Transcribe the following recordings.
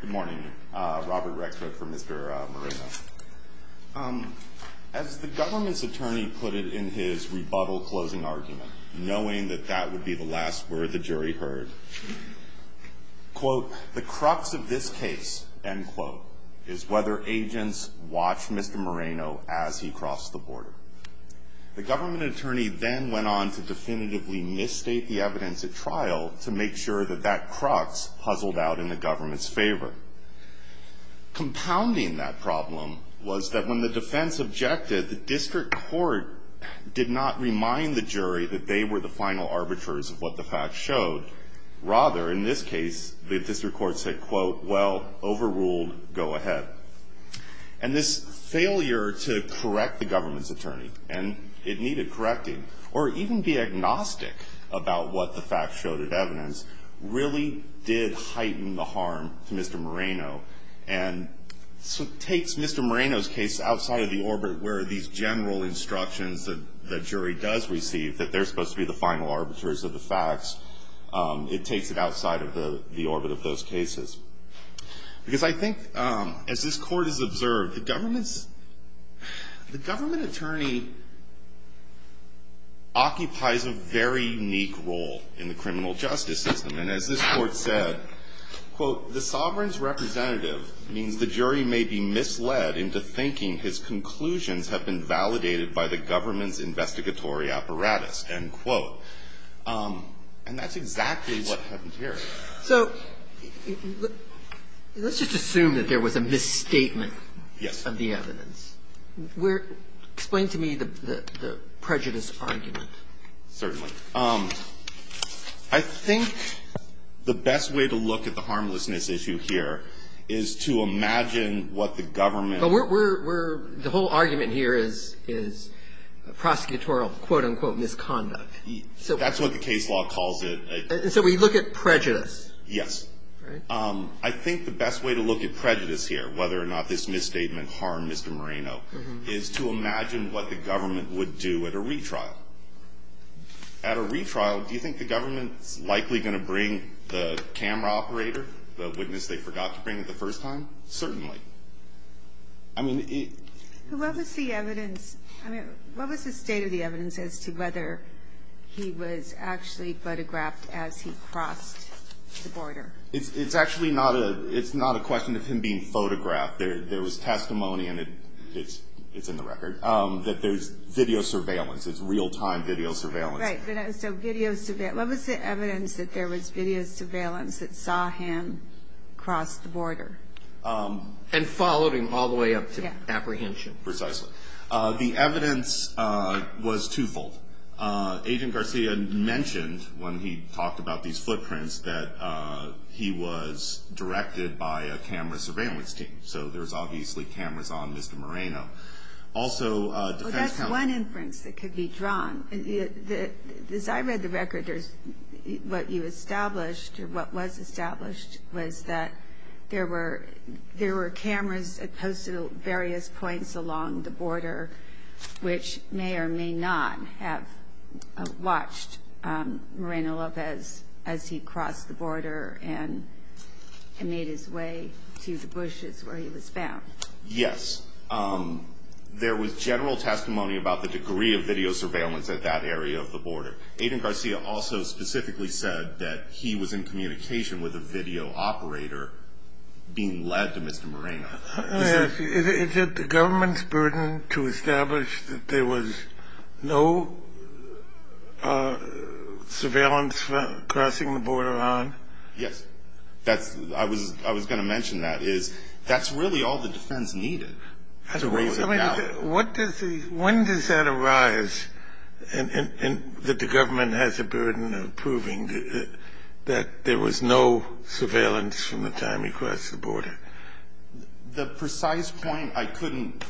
Good morning. Robert Rexford for Mr. Moreno. As the government's attorney put it in his rebuttal closing argument, knowing that that would be the last word the jury heard, quote, the crux of this case, end quote, is whether agents watch Mr. Moreno as he crossed the border. The government attorney then went on to definitively misstate the evidence at trial to make sure that that crux puzzled out in the government's favor. Compounding that problem was that when the defense objected, the district court did not remind the jury that they were the final arbiters of what the facts showed. Rather, in this case, the district court said, quote, well, overruled, go ahead. And this failure to correct the government's attorney, and it needed correcting, or even be agnostic about what the facts showed as evidence, really did heighten the harm to Mr. Moreno. And so it takes Mr. Moreno's case outside of the orbit where these general instructions that the jury does receive, that they're supposed to be the final arbiters of the facts, it takes it outside of the orbit of those cases. Because I think, as this Court has observed, the government's, the government attorney occupies a very unique role in the criminal justice system. And as this Court said, quote, the sovereign's representative means the jury may be misled into thinking his conclusions have been validated by the government's investigatory apparatus, end quote. And that's exactly what happened here. So let's just assume that there was a misstatement of the evidence. Explain to me the prejudice argument. Certainly. I think the best way to look at the harmlessness issue here is to imagine what the government ---- But we're, the whole argument here is prosecutorial, quote, unquote, misconduct. That's what the case law calls it. And so we look at prejudice. Yes. I think the best way to look at prejudice here, whether or not this misstatement harmed Mr. Moreno, is to imagine what the government would do at a retrial. At a retrial, do you think the government's likely going to bring the camera operator, the witness they forgot to bring the first time? Certainly. I mean, it ---- What was the evidence, I mean, what was the state of the evidence as to whether he was actually photographed as he crossed the border? It's actually not a question of him being photographed. There was testimony, and it's in the record, that there's video surveillance. It's real-time video surveillance. Right. So video surveillance. What was the evidence that there was video surveillance that saw him cross the border? And followed him all the way up to apprehension. Precisely. The evidence was twofold. Agent Garcia mentioned, when he talked about these footprints, that he was directed by a camera surveillance team. So there's obviously cameras on Mr. Moreno. Also, defense counsel ---- Well, that's one inference that could be drawn. As I read the record, what you established, or what was established, was that there were cameras posted at various points along the border, which may or may not have watched Moreno Lopez as he crossed the border and made his way to the bushes where he was found. Yes. There was general testimony about the degree of video surveillance at that area of the border. Agent Garcia also specifically said that he was in communication with a video operator being led to Mr. Moreno. Is it the government's burden to establish that there was no surveillance crossing the border on? Yes. I was going to mention that. That's really all the defense needed. When does that arise, that the government has a burden of proving that there was no surveillance from the time he crossed the border? The precise point, I couldn't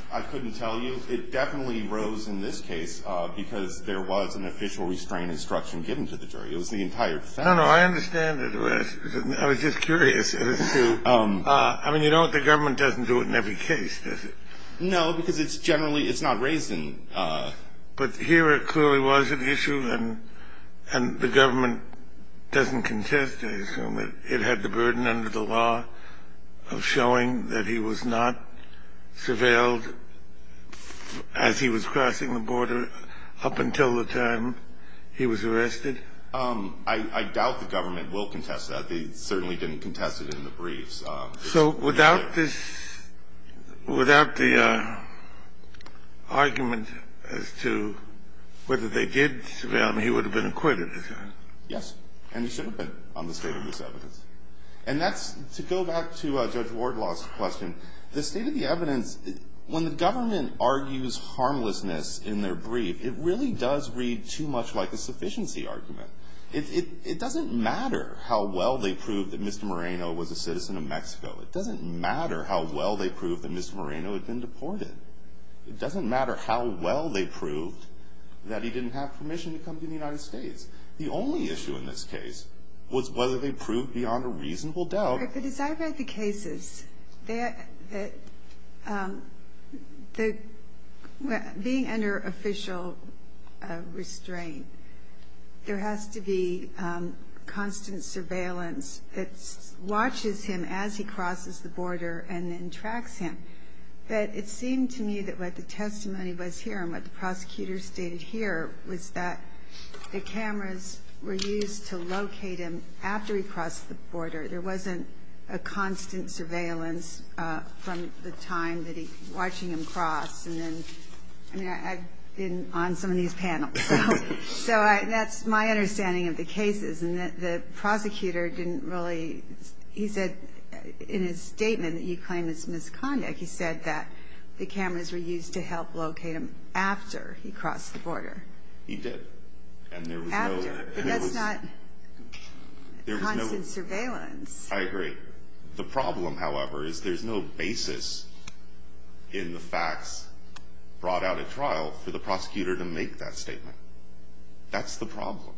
tell you. It definitely arose in this case because there was an official restraint instruction given to the jury. It was the entire family. No, no, I understand it. I was just curious as to ---- I mean, you know what? The government doesn't do it in every case, does it? No, because it's generally, it's not raised in ---- But here it clearly was an issue and the government doesn't contest, I assume, that it had the burden under the law of showing that he was not surveilled as he was crossing the border up until the time he was arrested? I doubt the government will contest that. They certainly didn't contest it in the briefs. So without this, without the argument as to whether they did surveil him, he would have been acquitted, is that it? Yes. And he should have been on the state of this evidence. And that's, to go back to Judge Wardlaw's question, the state of the evidence, when the government argues harmlessness in their brief, it really does read too much like a sufficiency argument. It doesn't matter how well they proved that Mr. Moreno was a citizen of Mexico. It doesn't matter how well they proved that Mr. Moreno had been deported. It doesn't matter how well they proved that he didn't have permission to come to the United States. The only issue in this case was whether they proved beyond a reasonable doubt. But as I read the cases, being under official restraint, there has to be constant surveillance that watches him as he crosses the border and then tracks him. But it seemed to me that what the testimony was here and what the prosecutor stated here was that the cameras were used to locate him after he crossed the border. There wasn't a constant surveillance from the time that he, watching him cross. And then, I mean, I've been on some of these panels. So that's my understanding of the cases. And the prosecutor didn't really, he said in his statement that you claim it's misconduct, he said that the cameras were used to help locate him after he crossed the border. He did. After. But that's not constant surveillance. I agree. The problem, however, is there's no basis in the facts brought out at trial for the prosecutor to make that statement. That's the problem.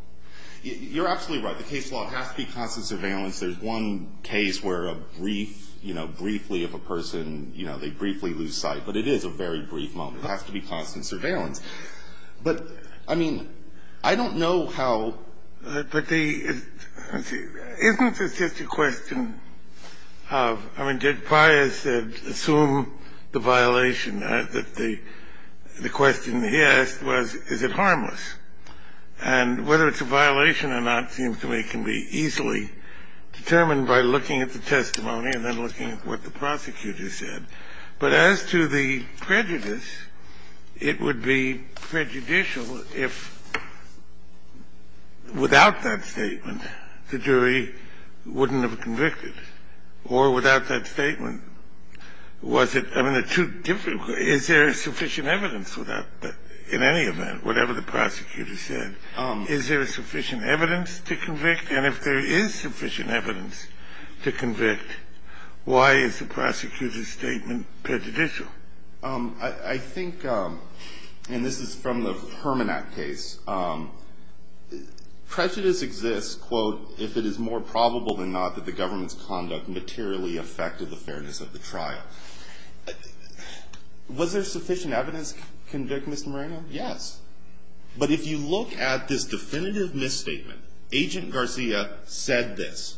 You're absolutely right. The case law has to be constant surveillance. There's one case where a brief, you know, briefly of a person, you know, they briefly lose sight. But it is a very brief moment. It has to be constant surveillance. But, I mean, I don't know how. But the, isn't this just a question of, I mean, Judge Pius said assume the violation. The question he asked was is it harmless. And whether it's a violation or not seems to me can be easily determined by looking at the testimony and then looking at what the prosecutor said. But as to the prejudice, it would be prejudicial if, without that statement, the jury wouldn't have convicted. Or without that statement, was it too difficult? Is there sufficient evidence for that in any event, whatever the prosecutor said? Is there sufficient evidence to convict? And if there is sufficient evidence to convict, why is the prosecutor's statement prejudicial? I think, and this is from the Hermannat case, prejudice exists, quote, if it is more probable than not that the government's conduct materially affected the fairness of the trial. Was there sufficient evidence to convict, Mr. Marino? Yes. But if you look at this definitive misstatement, Agent Garcia said this,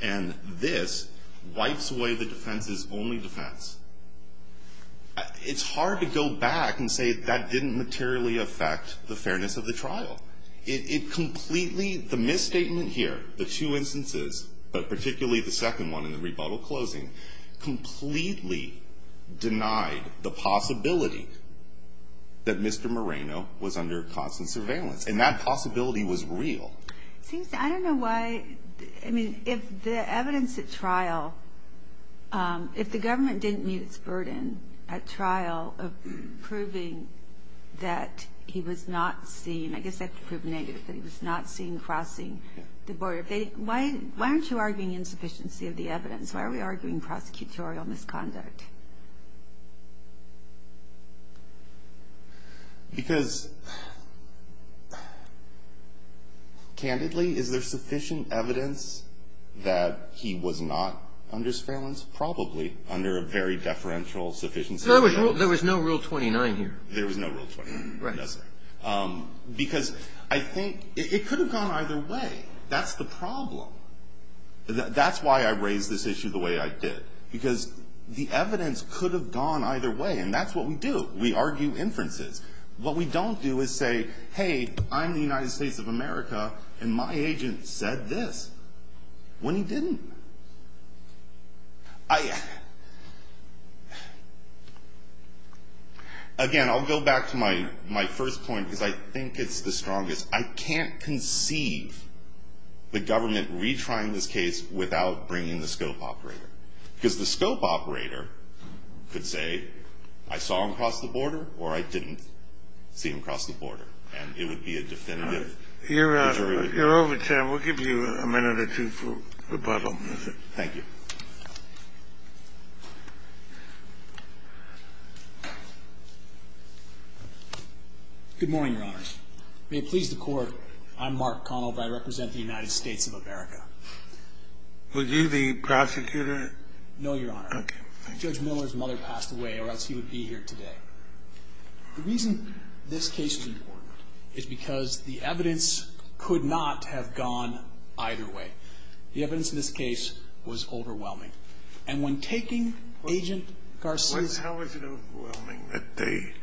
and this wipes away the defense's only defense. It's hard to go back and say that didn't materially affect the fairness of the trial. It completely, the misstatement here, the two instances, but particularly the second one in the rebuttal closing, completely denied the possibility that Mr. Marino was under constant surveillance. And that possibility was real. I don't know why, I mean, if the evidence at trial, if the government didn't meet its burden at trial of proving that he was not seen, I guess that could prove negative, that he was not seen crossing the border. Why aren't you arguing insufficiency of the evidence? Why are we arguing prosecutorial misconduct? Because, candidly, is there sufficient evidence that he was not under surveillance? Probably under a very deferential sufficiency of the evidence. There was no Rule 29 here. There was no Rule 29. Right. Because I think it could have gone either way. That's the problem. That's why I raised this issue the way I did. Because the evidence could have gone either way. And that's what we do. We argue inferences. What we don't do is say, hey, I'm the United States of America, and my agent said this when he didn't. Again, I'll go back to my first point, because I think it's the strongest. I can't conceive the government retrying this case without bringing the scope operator. Because the scope operator could say, I saw him cross the border, or I didn't see him cross the border. And it would be a definitive deterioration. You're over time. We'll give you a minute or two for rebuttal. Thank you. Good morning, Your Honors. May it please the Court, I'm Mark Connell, and I represent the United States of America. Were you the prosecutor? No, Your Honor. Okay. Judge Miller's mother passed away, or else he would be here today. The reason this case is important is because the evidence could not have gone either way. The evidence in this case was overwhelming. And when taking Agent Garcia. How was it overwhelming that they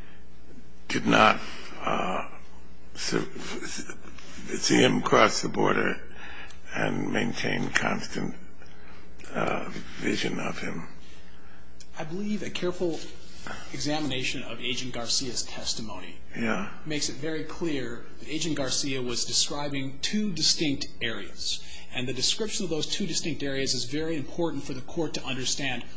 did not see him cross the border and maintain constant vision of him? I believe a careful examination of Agent Garcia's testimony makes it very clear that Agent Garcia was describing two distinct areas. And the description of those two distinct areas is very important for the Court to make it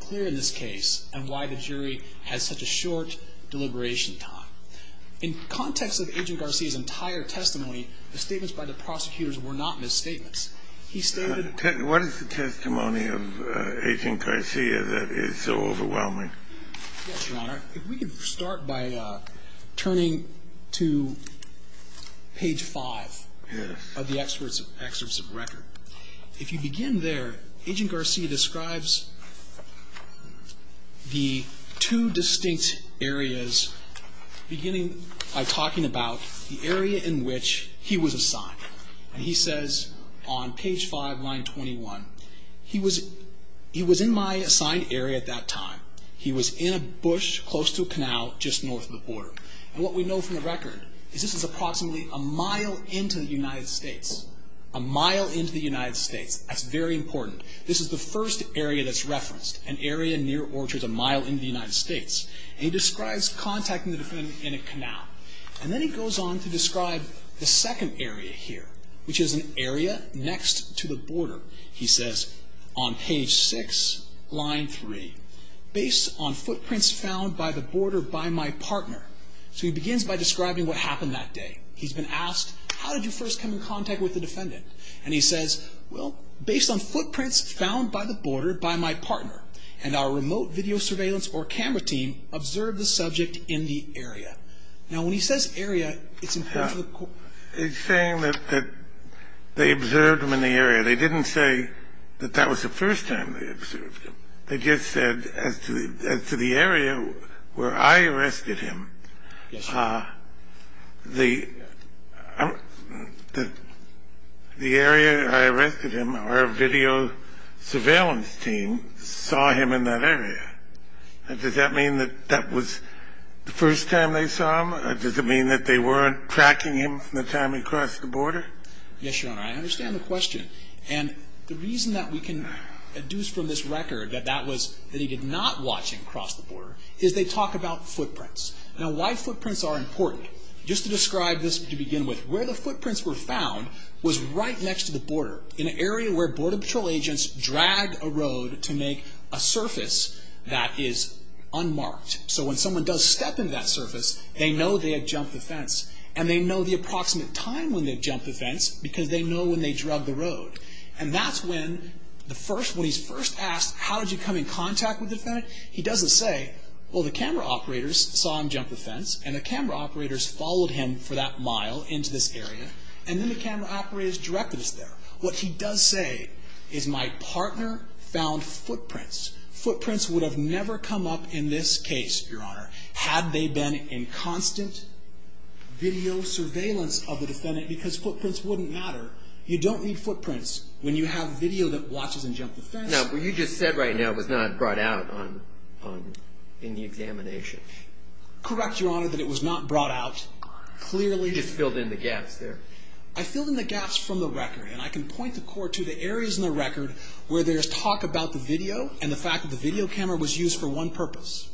clear in this case and why the jury has such a short deliberation time. In context of Agent Garcia's entire testimony, the statements by the prosecutors were not misstatements. He stated. What is the testimony of Agent Garcia that is so overwhelming? Yes, Your Honor. If we could start by turning to page 5. Yes. Of the excerpts of record. If you begin there, Agent Garcia describes the two distinct areas, beginning by talking about the area in which he was assigned. And he says on page 5, line 21. He was in my assigned area at that time. He was in a bush close to a canal just north of the border. And what we know from the record is this is approximately a mile into the United States. That's very important. This is the first area that's referenced. An area near or just a mile into the United States. And he describes contacting the defendant in a canal. And then he goes on to describe the second area here, which is an area next to the border. He says on page 6, line 3. Based on footprints found by the border by my partner. So he begins by describing what happened that day. He's been asked. How did you first come in contact with the defendant? And he says, well, based on footprints found by the border by my partner. And our remote video surveillance or camera team observed the subject in the area. Now, when he says area, it's important for the court. It's saying that they observed him in the area. They didn't say that that was the first time they observed him. They just said as to the area where I arrested him. Yes, sir. The area I arrested him, our video surveillance team saw him in that area. Does that mean that that was the first time they saw him? Does it mean that they weren't tracking him from the time he crossed the border? Yes, Your Honor. I understand the question. And the reason that we can deduce from this record that he did not watch him cross the border is they talk about footprints. Now, why footprints are important. Just to describe this to begin with, where the footprints were found was right next to the border, in an area where border patrol agents drag a road to make a surface that is unmarked. So when someone does step into that surface, they know they have jumped the fence. And they know the approximate time when they've jumped the fence because they know when they drug the road. And that's when the first, when he's first asked, how did you come in contact with the defendant? He doesn't say, well, the camera operators saw him jump the fence, and the camera operators followed him for that mile into this area, and then the camera operators directed us there. What he does say is my partner found footprints. Footprints would have never come up in this case, Your Honor, had they been in constant video surveillance of the defendant because footprints wouldn't matter. You don't need footprints when you have video that watches him jump the fence. Now, what you just said right now was not brought out in the examination. Correct, Your Honor, that it was not brought out. You just filled in the gaps there. I filled in the gaps from the record, and I can point the court to the areas in the record where there's talk about the video and the fact that the video camera was used for one purpose.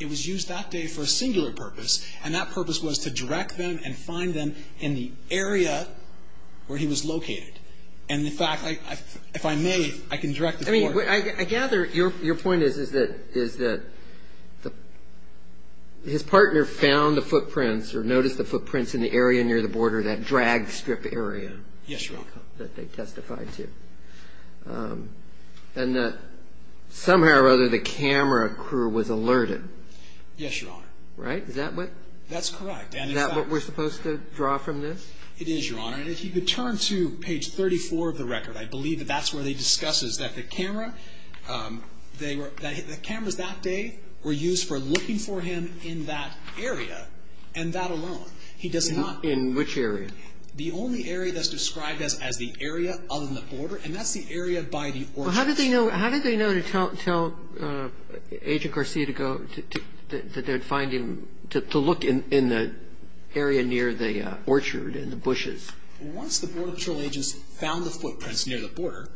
It was used that day for a singular purpose, and that purpose was to direct them and find them in the area where he was located. And, in fact, if I may, I can direct the court. I gather your point is that his partner found the footprints or noticed the footprints in the area near the border, that drag strip area. Yes, Your Honor. That they testified to. And that somehow or other the camera crew was alerted. Yes, Your Honor. Right? Is that what? That's correct. Is that what we're supposed to draw from this? It is, Your Honor. And if you could turn to page 34 of the record, I believe that that's where they discuss this, that the cameras that day were used for looking for him in that area and that alone. In which area? The only area that's described as the area other than the border, and that's the area by the orchards. Well, how did they know to tell Agent Garcia to go, that they would find him, to look in the area near the orchard in the bushes? Once the Border Patrol agents found the footprints near the border,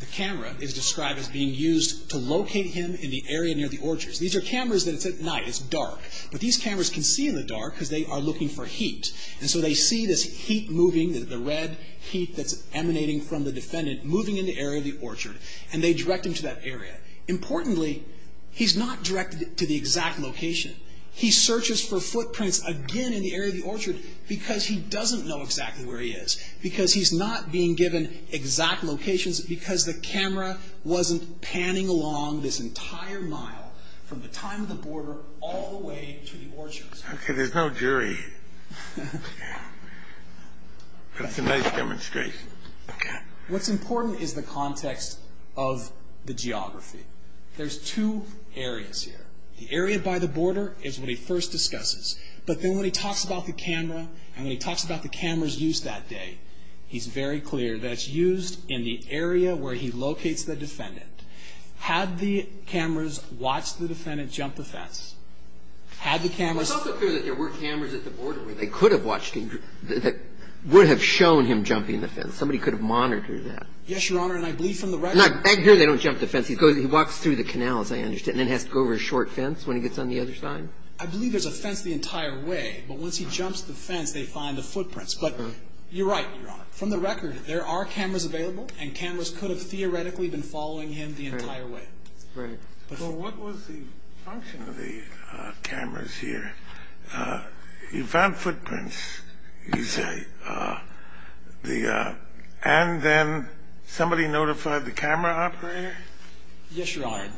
the camera is described as being used to locate him in the area near the orchards. These are cameras that it's at night. It's dark. But these cameras can see in the dark because they are looking for heat. And so they see this heat moving, the red heat that's emanating from the defendant, moving in the area of the orchard, and they direct him to that area. Importantly, he's not directed to the exact location. He searches for footprints again in the area of the orchard because he doesn't know exactly where he is, because he's not being given exact locations, because the camera wasn't panning along this entire mile from the time of the border all the way to the orchards. Okay, there's no jury, but it's a nice demonstration. Okay. What's important is the context of the geography. There's two areas here. The area by the border is what he first discusses, but then when he talks about the camera and when he talks about the camera's use that day, he's very clear that it's used in the area where he locates the defendant. Had the cameras watched the defendant jump the fence? Had the cameras... It's also clear that there were cameras at the border where they could have watched him, that would have shown him jumping the fence. Somebody could have monitored that. Yes, Your Honor, and I believe from the record... Back here, they don't jump the fence. He walks through the canals, I understand, and then has to go over a short fence when he gets on the other side. I believe there's a fence the entire way, but once he jumps the fence, they find the footprints. But you're right, Your Honor. From the record, there are cameras available, and cameras could have theoretically been following him the entire way. Right. Well, what was the function of the cameras here? You found footprints, you say, and then somebody notified the camera operator? Yes, Your Honor.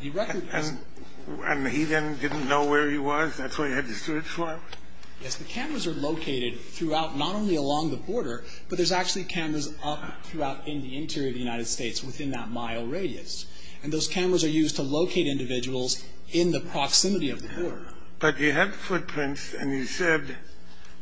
And he then didn't know where he was? That's why he had to search for him? Yes. The cameras are located throughout, not only along the border, but there's actually cameras up throughout in the interior of the United States within that mile radius. And those cameras are used to locate individuals in the proximity of the border. But he had footprints, and he said,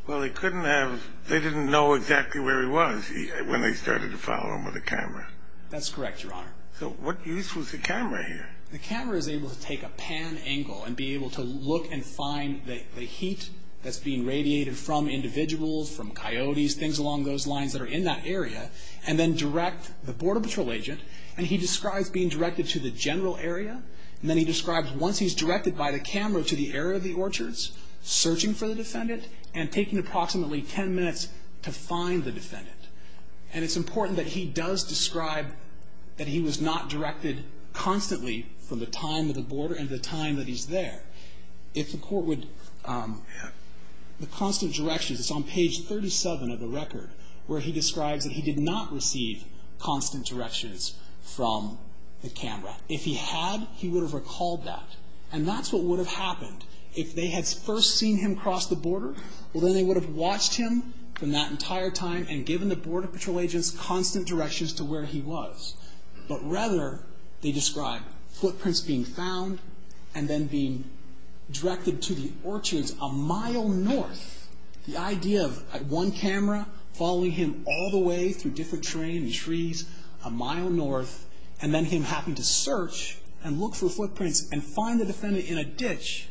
well, he couldn't have... they didn't know exactly where he was when they started to follow him with a camera. That's correct, Your Honor. So what use was the camera here? The camera is able to take a pan angle and be able to look and find the heat that's being radiated from individuals, from coyotes, things along those lines that are in that area, and then direct the Border Patrol agent, and he describes being directed to the general area, and then he describes once he's directed by the camera to the area of the orchards, searching for the defendant, and taking approximately 10 minutes to find the defendant. And it's important that he does describe that he was not directed constantly from the time of the border and the time that he's there. If the court would... the constant directions, it's on page 37 of the record, where he describes that he did not receive constant directions from the camera. If he had, he would have recalled that, and that's what would have happened. If they had first seen him cross the border, well, then they would have watched him from that entire time and given the Border Patrol agents constant directions to where he was. But rather, they describe footprints being found and then being directed to the orchards a mile north. The idea of one camera following him all the way through different terrain and trees a mile north, and then him having to search and look for footprints and find the defendant in a ditch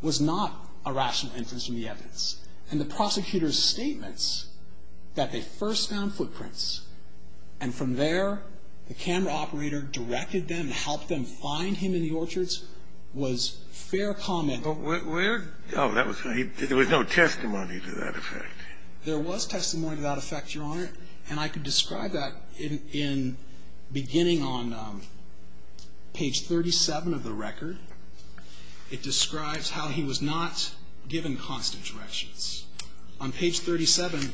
was not a rational inference from the evidence. And the prosecutor's statements that they first found footprints and from there the camera operator directed them and helped them find him in the orchards was fair comment. But where... Oh, that was... there was no testimony to that effect. There was testimony to that effect, Your Honor, and I can describe that in beginning on page 37 of the record. It describes how he was not given constant directions. On page 37,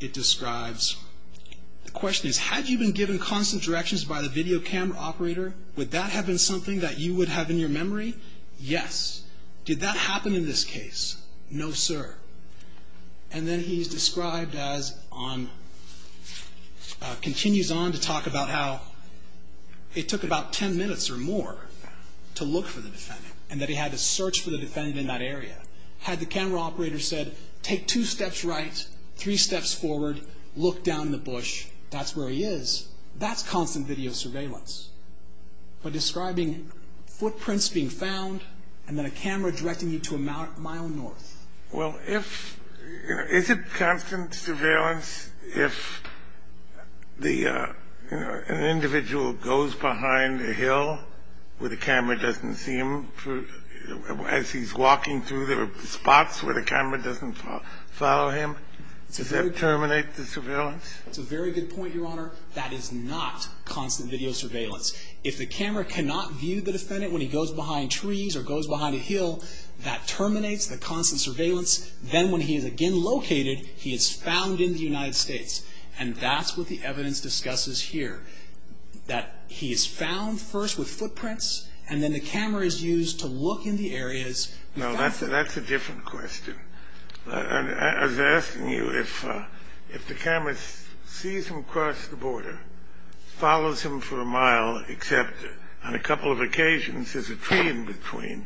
it describes... The question is, had you been given constant directions by the video camera operator, would that have been something that you would have in your memory? Yes. Did that happen in this case? No, sir. And then he's described as on... continues on to talk about how it took about 10 minutes or more to look for the defendant and that he had to search for the defendant in that area. Had the camera operator said, take two steps right, three steps forward, look down in the bush, that's where he is, that's constant video surveillance. But describing footprints being found and then a camera directing you to a mile north. Well, if... Is it constant surveillance if the... an individual goes behind a hill where the camera doesn't see him as he's walking through the spots where the camera doesn't follow him? Does that terminate the surveillance? That's a very good point, Your Honor. That is not constant video surveillance. If the camera cannot view the defendant when he goes behind trees or goes behind a hill, that terminates the constant surveillance. Then when he is again located, he is found in the United States. And that's what the evidence discusses here, that he is found first with footprints and then the camera is used to look in the areas... No, that's a different question. I was asking you if the camera sees him across the border, follows him for a mile, except on a couple of occasions there's a tree in between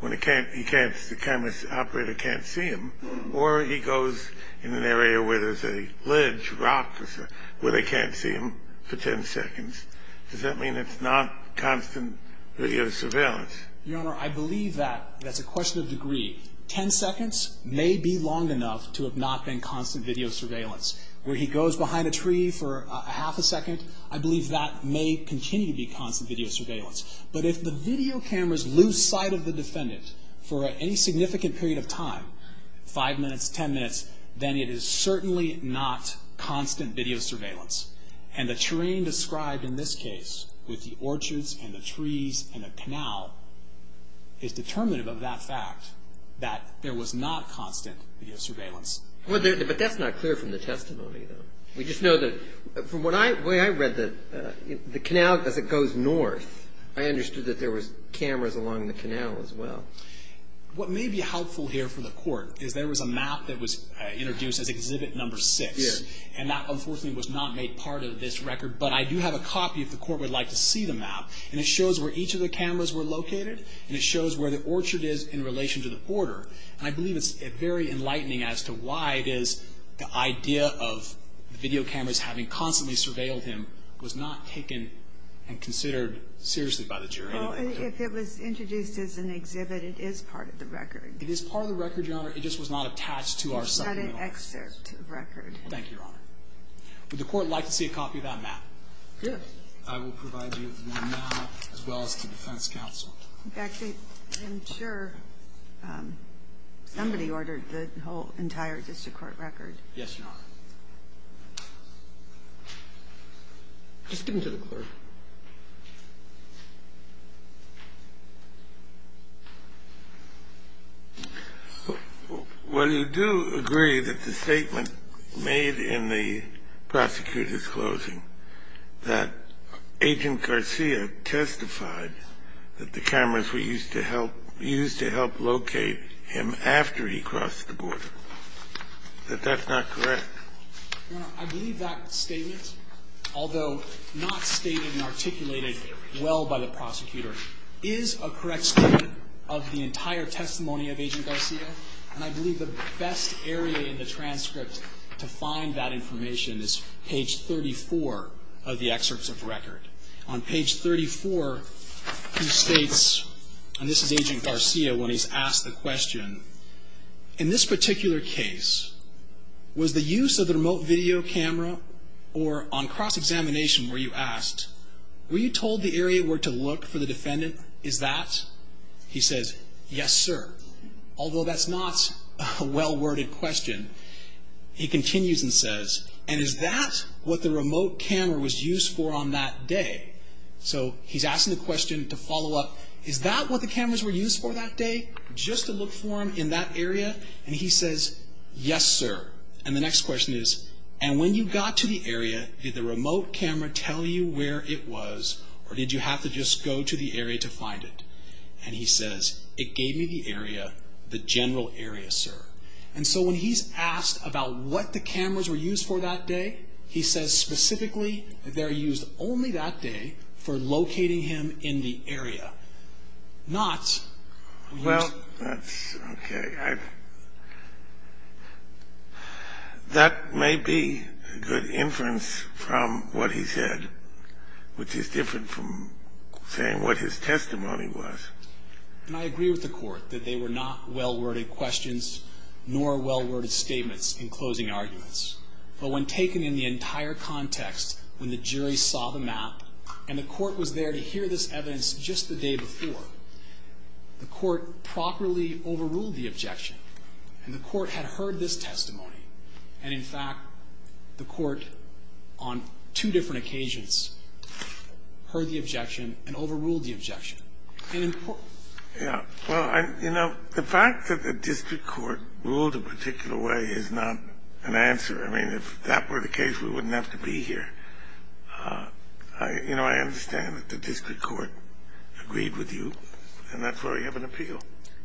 when the camera operator can't see him, or he goes in an area where there's a ledge, rock, where they can't see him for 10 seconds, does that mean it's not constant video surveillance? Your Honor, I believe that. That's a question of degree. 10 seconds may be long enough to have not been constant video surveillance. Where he goes behind a tree for half a second, I believe that may continue to be constant video surveillance. But if the video cameras lose sight of the defendant for any significant period of time, 5 minutes, 10 minutes, then it is certainly not constant video surveillance. And the terrain described in this case, with the orchards and the trees and the canal, is determinative of that fact. That there was not constant video surveillance. But that's not clear from the testimony, though. We just know that from the way I read the canal, as it goes north, I understood that there was cameras along the canal as well. What may be helpful here for the Court is there was a map that was introduced as Exhibit No. 6. And that, unfortunately, was not made part of this record. But I do have a copy if the Court would like to see the map. And it shows where each of the cameras were located, and it shows where the orchard is in relation to the border. And I believe it's very enlightening as to why it is the idea of the video cameras having constantly surveilled him was not taken and considered seriously by the jury. Well, if it was introduced as an exhibit, it is part of the record. It is part of the record, Your Honor. It just was not attached to our supplemental evidence. It's not an excerpt record. Thank you, Your Honor. Would the Court like to see a copy of that map? Sure. I will provide you with the map, as well as the defense counsel. In fact, I'm sure somebody ordered the whole entire district court record. Yes, Your Honor. Just give them to the clerk. Well, you do agree that the statement made in the prosecutor's closing that Agent Garcia testified that the cameras were used to help locate him after he crossed the border, that that's not correct? Your Honor, I believe that statement, although not stated and articulated well by the prosecutor, is a correct statement of the entire testimony of Agent Garcia. And I believe the best area in the transcript to find that information is page 34 of the excerpts of record. On page 34, he states, and this is Agent Garcia when he's asked the question, in this particular case, was the use of the remote video camera or on cross-examination were you asked, were you told the area where to look for the defendant is that? He says, yes, sir, although that's not a well-worded question. He continues and says, and is that what the remote camera was used for on that day? So he's asking the question to follow up, is that what the cameras were used for that day, just to look for him in that area? And he says, yes, sir. And the next question is, and when you got to the area, did the remote camera tell you where it was or did you have to just go to the area to find it? And so when he's asked about what the cameras were used for that day, he says specifically they're used only that day for locating him in the area, not... Well, that's okay. That may be a good inference from what he said, which is different from saying what his testimony was. And I agree with the court that they were not well-worded questions nor well-worded statements in closing arguments. But when taken in the entire context, when the jury saw the map and the court was there to hear this evidence just the day before, the court properly overruled the objection and the court had heard this testimony. And in fact, the court on two different occasions heard the objection and overruled the objection. And in... Yeah. Well, you know, the fact that the district court ruled a particular way is not an answer. I mean, if that were the case, we wouldn't have to be here. You know, I understand that the district court agreed with you, and that's why we have an appeal.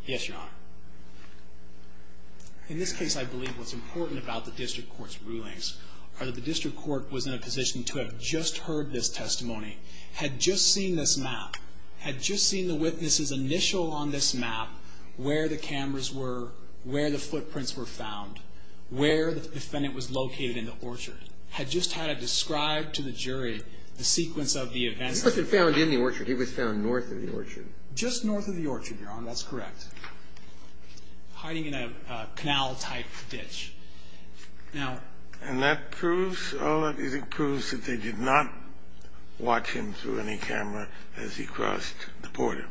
Yes, Your Honor. In this case, I believe what's important about the district court's rulings are that the district court was in a position to have just heard this testimony, had just seen this map, had just seen the witness's initial on this map, where the cameras were, where the footprints were found, where the defendant was located in the orchard, had just had it described to the jury the sequence of the events. He wasn't found in the orchard. He was found north of the orchard. Just north of the orchard, Your Honor. That's correct. Hiding in a canal-type ditch. Now... And that proves, Ola, it proves that they did not watch him through any camera as he crossed the border.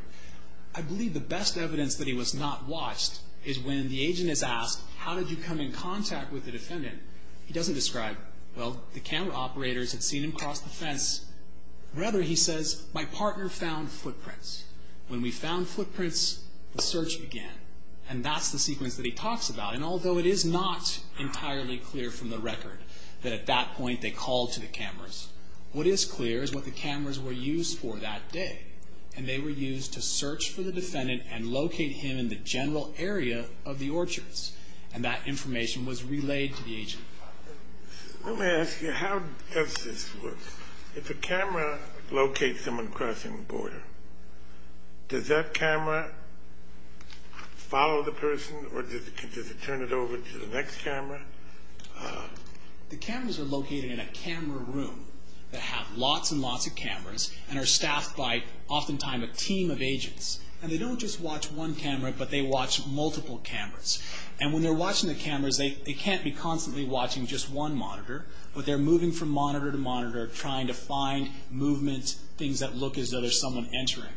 I believe the best evidence that he was not watched is when the agent is asked, how did you come in contact with the defendant? He doesn't describe, well, the camera operators had seen him cross the fence. Rather, he says, my partner found footprints. When we found footprints, the search began. And that's the sequence that he talks about. And although it is not entirely clear from the record that at that point they called to the cameras, what is clear is what the cameras were used for that day. And they were used to search for the defendant and locate him in the general area of the orchards. And that information was relayed to the agent. Let me ask you, how does this work? If a camera locates someone crossing the border, does that camera follow the person or does it turn it over to the next camera? The cameras are located in a camera room that have lots and lots of cameras and are staffed by, oftentimes, a team of agents. And they don't just watch one camera, but they watch multiple cameras. And when they're watching the cameras, they can't be constantly watching just one monitor, but they're moving from monitor to monitor trying to find movement, things that look as though there's someone entering.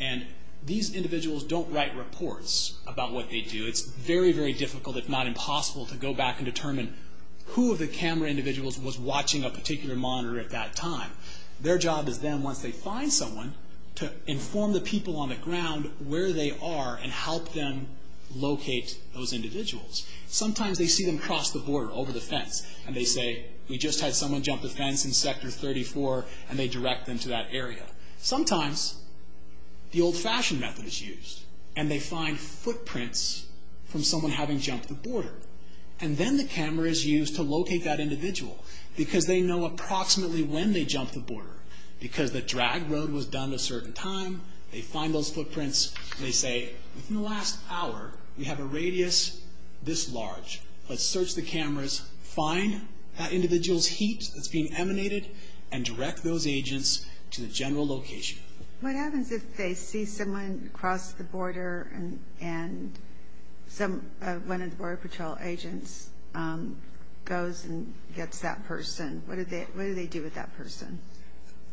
And these individuals don't write reports about what they do. It's very, very difficult, if not impossible, to go back and determine who of the camera individuals was watching a particular monitor at that time. Their job is then, once they find someone, to inform the people on the ground where they are and help them locate those individuals. Sometimes they see them cross the border, over the fence, and they say, we just had someone jump the fence in Sector 34, and they direct them to that area. Sometimes the old-fashioned method is used, and they find footprints from someone having jumped the border. And then the camera is used to locate that individual because they know approximately when they jumped the border. Because the drag road was done at a certain time, they find those footprints, and they say, within the last hour, we have a radius this large. Let's search the cameras, find that individual's heat that's being emanated, and direct those agents to the general location. What happens if they see someone cross the border and one of the Border Patrol agents goes and gets that person? What do they do with that person?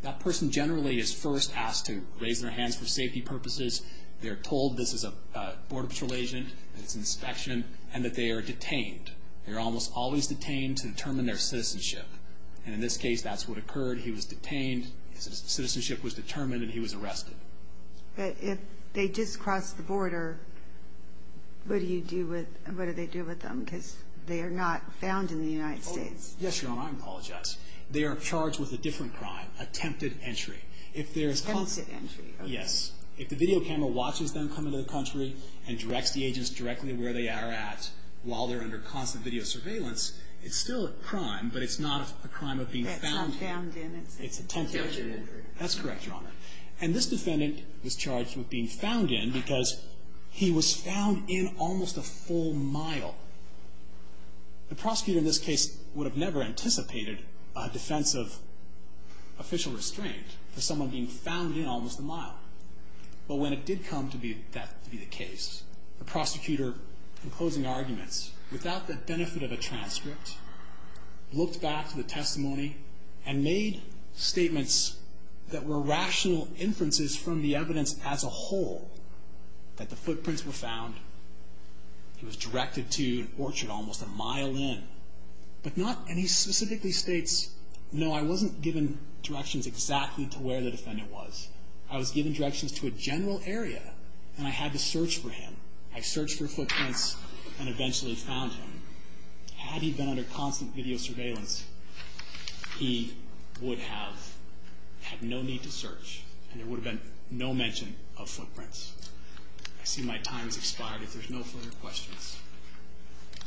That person generally is first asked to raise their hands for safety purposes. They're told this is a Border Patrol agent, it's an inspection, and that they are detained. They're almost always detained to determine their citizenship. In this case, that's what occurred. He was detained, his citizenship was determined, and he was arrested. But if they just crossed the border, what do they do with them? Because they are not found in the United States. Yes, Your Honor, I apologize. They are charged with a different crime, attempted entry. Attempted entry, okay. Yes, if the video camera watches them come into the country and directs the agents directly where they are at while they're under constant video surveillance, it's still a crime, but it's not a crime of being found in. It's not found in. It's attempted entry. Attempted entry. That's correct, Your Honor. And this defendant was charged with being found in because he was found in almost a full mile. The prosecutor in this case would have never anticipated a defense of official restraint for someone being found in almost a mile. But when it did come to be that to be the case, the prosecutor, in closing arguments, without the benefit of a transcript, looked back to the testimony and made statements that were rational inferences from the evidence as a whole that the footprints were found. He was directed to an orchard almost a mile in, and he specifically states, no, I wasn't given directions exactly to where the defendant was. I was given directions to a general area, and I had to search for him. I searched for footprints and eventually found him. Had he been under constant video surveillance, he would have had no need to search, and there would have been no mention of footprints. I see my time has expired.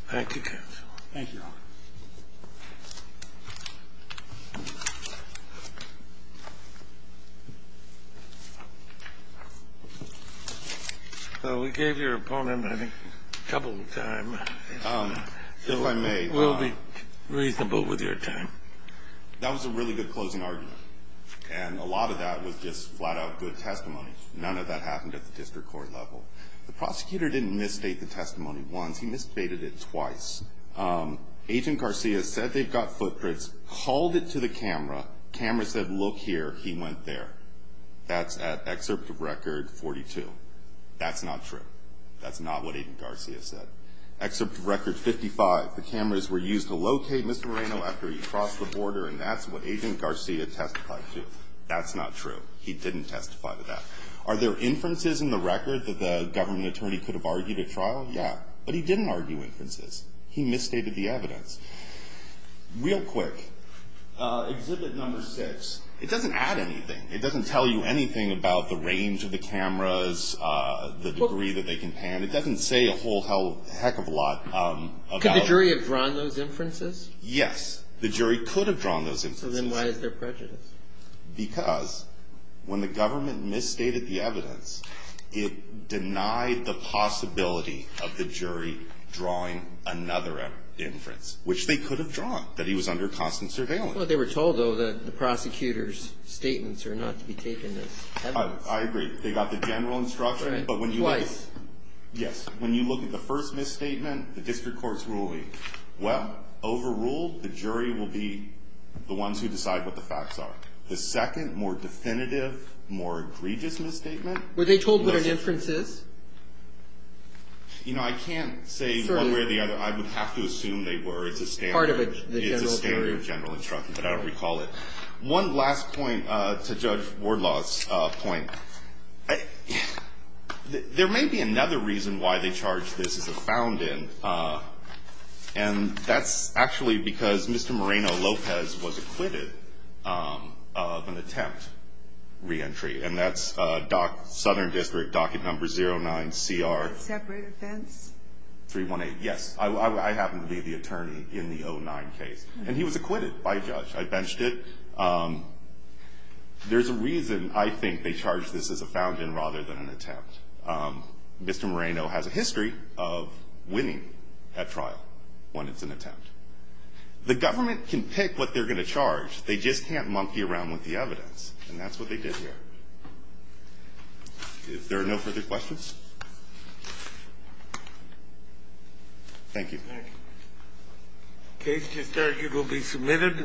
Thank you. Thank you, Your Honor. Well, we gave your opponent, I think, a couple of time. If I may. We'll be reasonable with your time. That was a really good closing argument, and a lot of that was just flat-out good testimony. None of that happened at the district court level. The prosecutor didn't misstate the testimony once. He misstated it twice. Agent Garcia said they've got footprints, called it to the camera. Camera said, look here. He went there. That's at excerpt record 42. That's not true. That's not what Agent Garcia said. Excerpt record 55, the cameras were used to locate Mr. Moreno after he crossed the border, and that's what Agent Garcia testified to. That's not true. He didn't testify to that. Are there inferences in the record that the government attorney could have argued at trial? Yeah. But he didn't argue inferences. He misstated the evidence. Real quick. Exhibit number six. It doesn't add anything. It doesn't tell you anything about the range of the cameras, the degree that they can pan. It doesn't say a whole heck of a lot. Could the jury have drawn those inferences? Yes. The jury could have drawn those inferences. So then why is there prejudice? Because when the government misstated the evidence, it denied the possibility of the jury drawing another inference, which they could have drawn, that he was under constant surveillance. I thought they were told, though, that the prosecutor's statements are not to be taken as evidence. I agree. They got the general instruction. Twice. Yes. When you look at the first misstatement, the district court's ruling, well, overruled, the jury will be the ones who decide what the facts are. The second, more definitive, more egregious misstatement. Were they told what an inference is? You know, I can't say one way or the other. I would have to assume they were. It's a standard. It's a theory of general instruction, but I don't recall it. One last point to Judge Wardlaw's point. There may be another reason why they charge this as a found in, and that's actually because Mr. Moreno-Lopez was acquitted of an attempt reentry, and that's southern district, docket number 09CR. Separate offense? 318. Yes. I happen to be the attorney in the 09 case, and he was acquitted by a judge. I benched it. There's a reason I think they charge this as a found in rather than an attempt. Mr. Moreno has a history of winning at trial when it's an attempt. The government can pick what they're going to charge. They just can't monkey around with the evidence, and that's what they did here. If there are no further questions. Thank you. Thank you. Case to start. It will be submitted.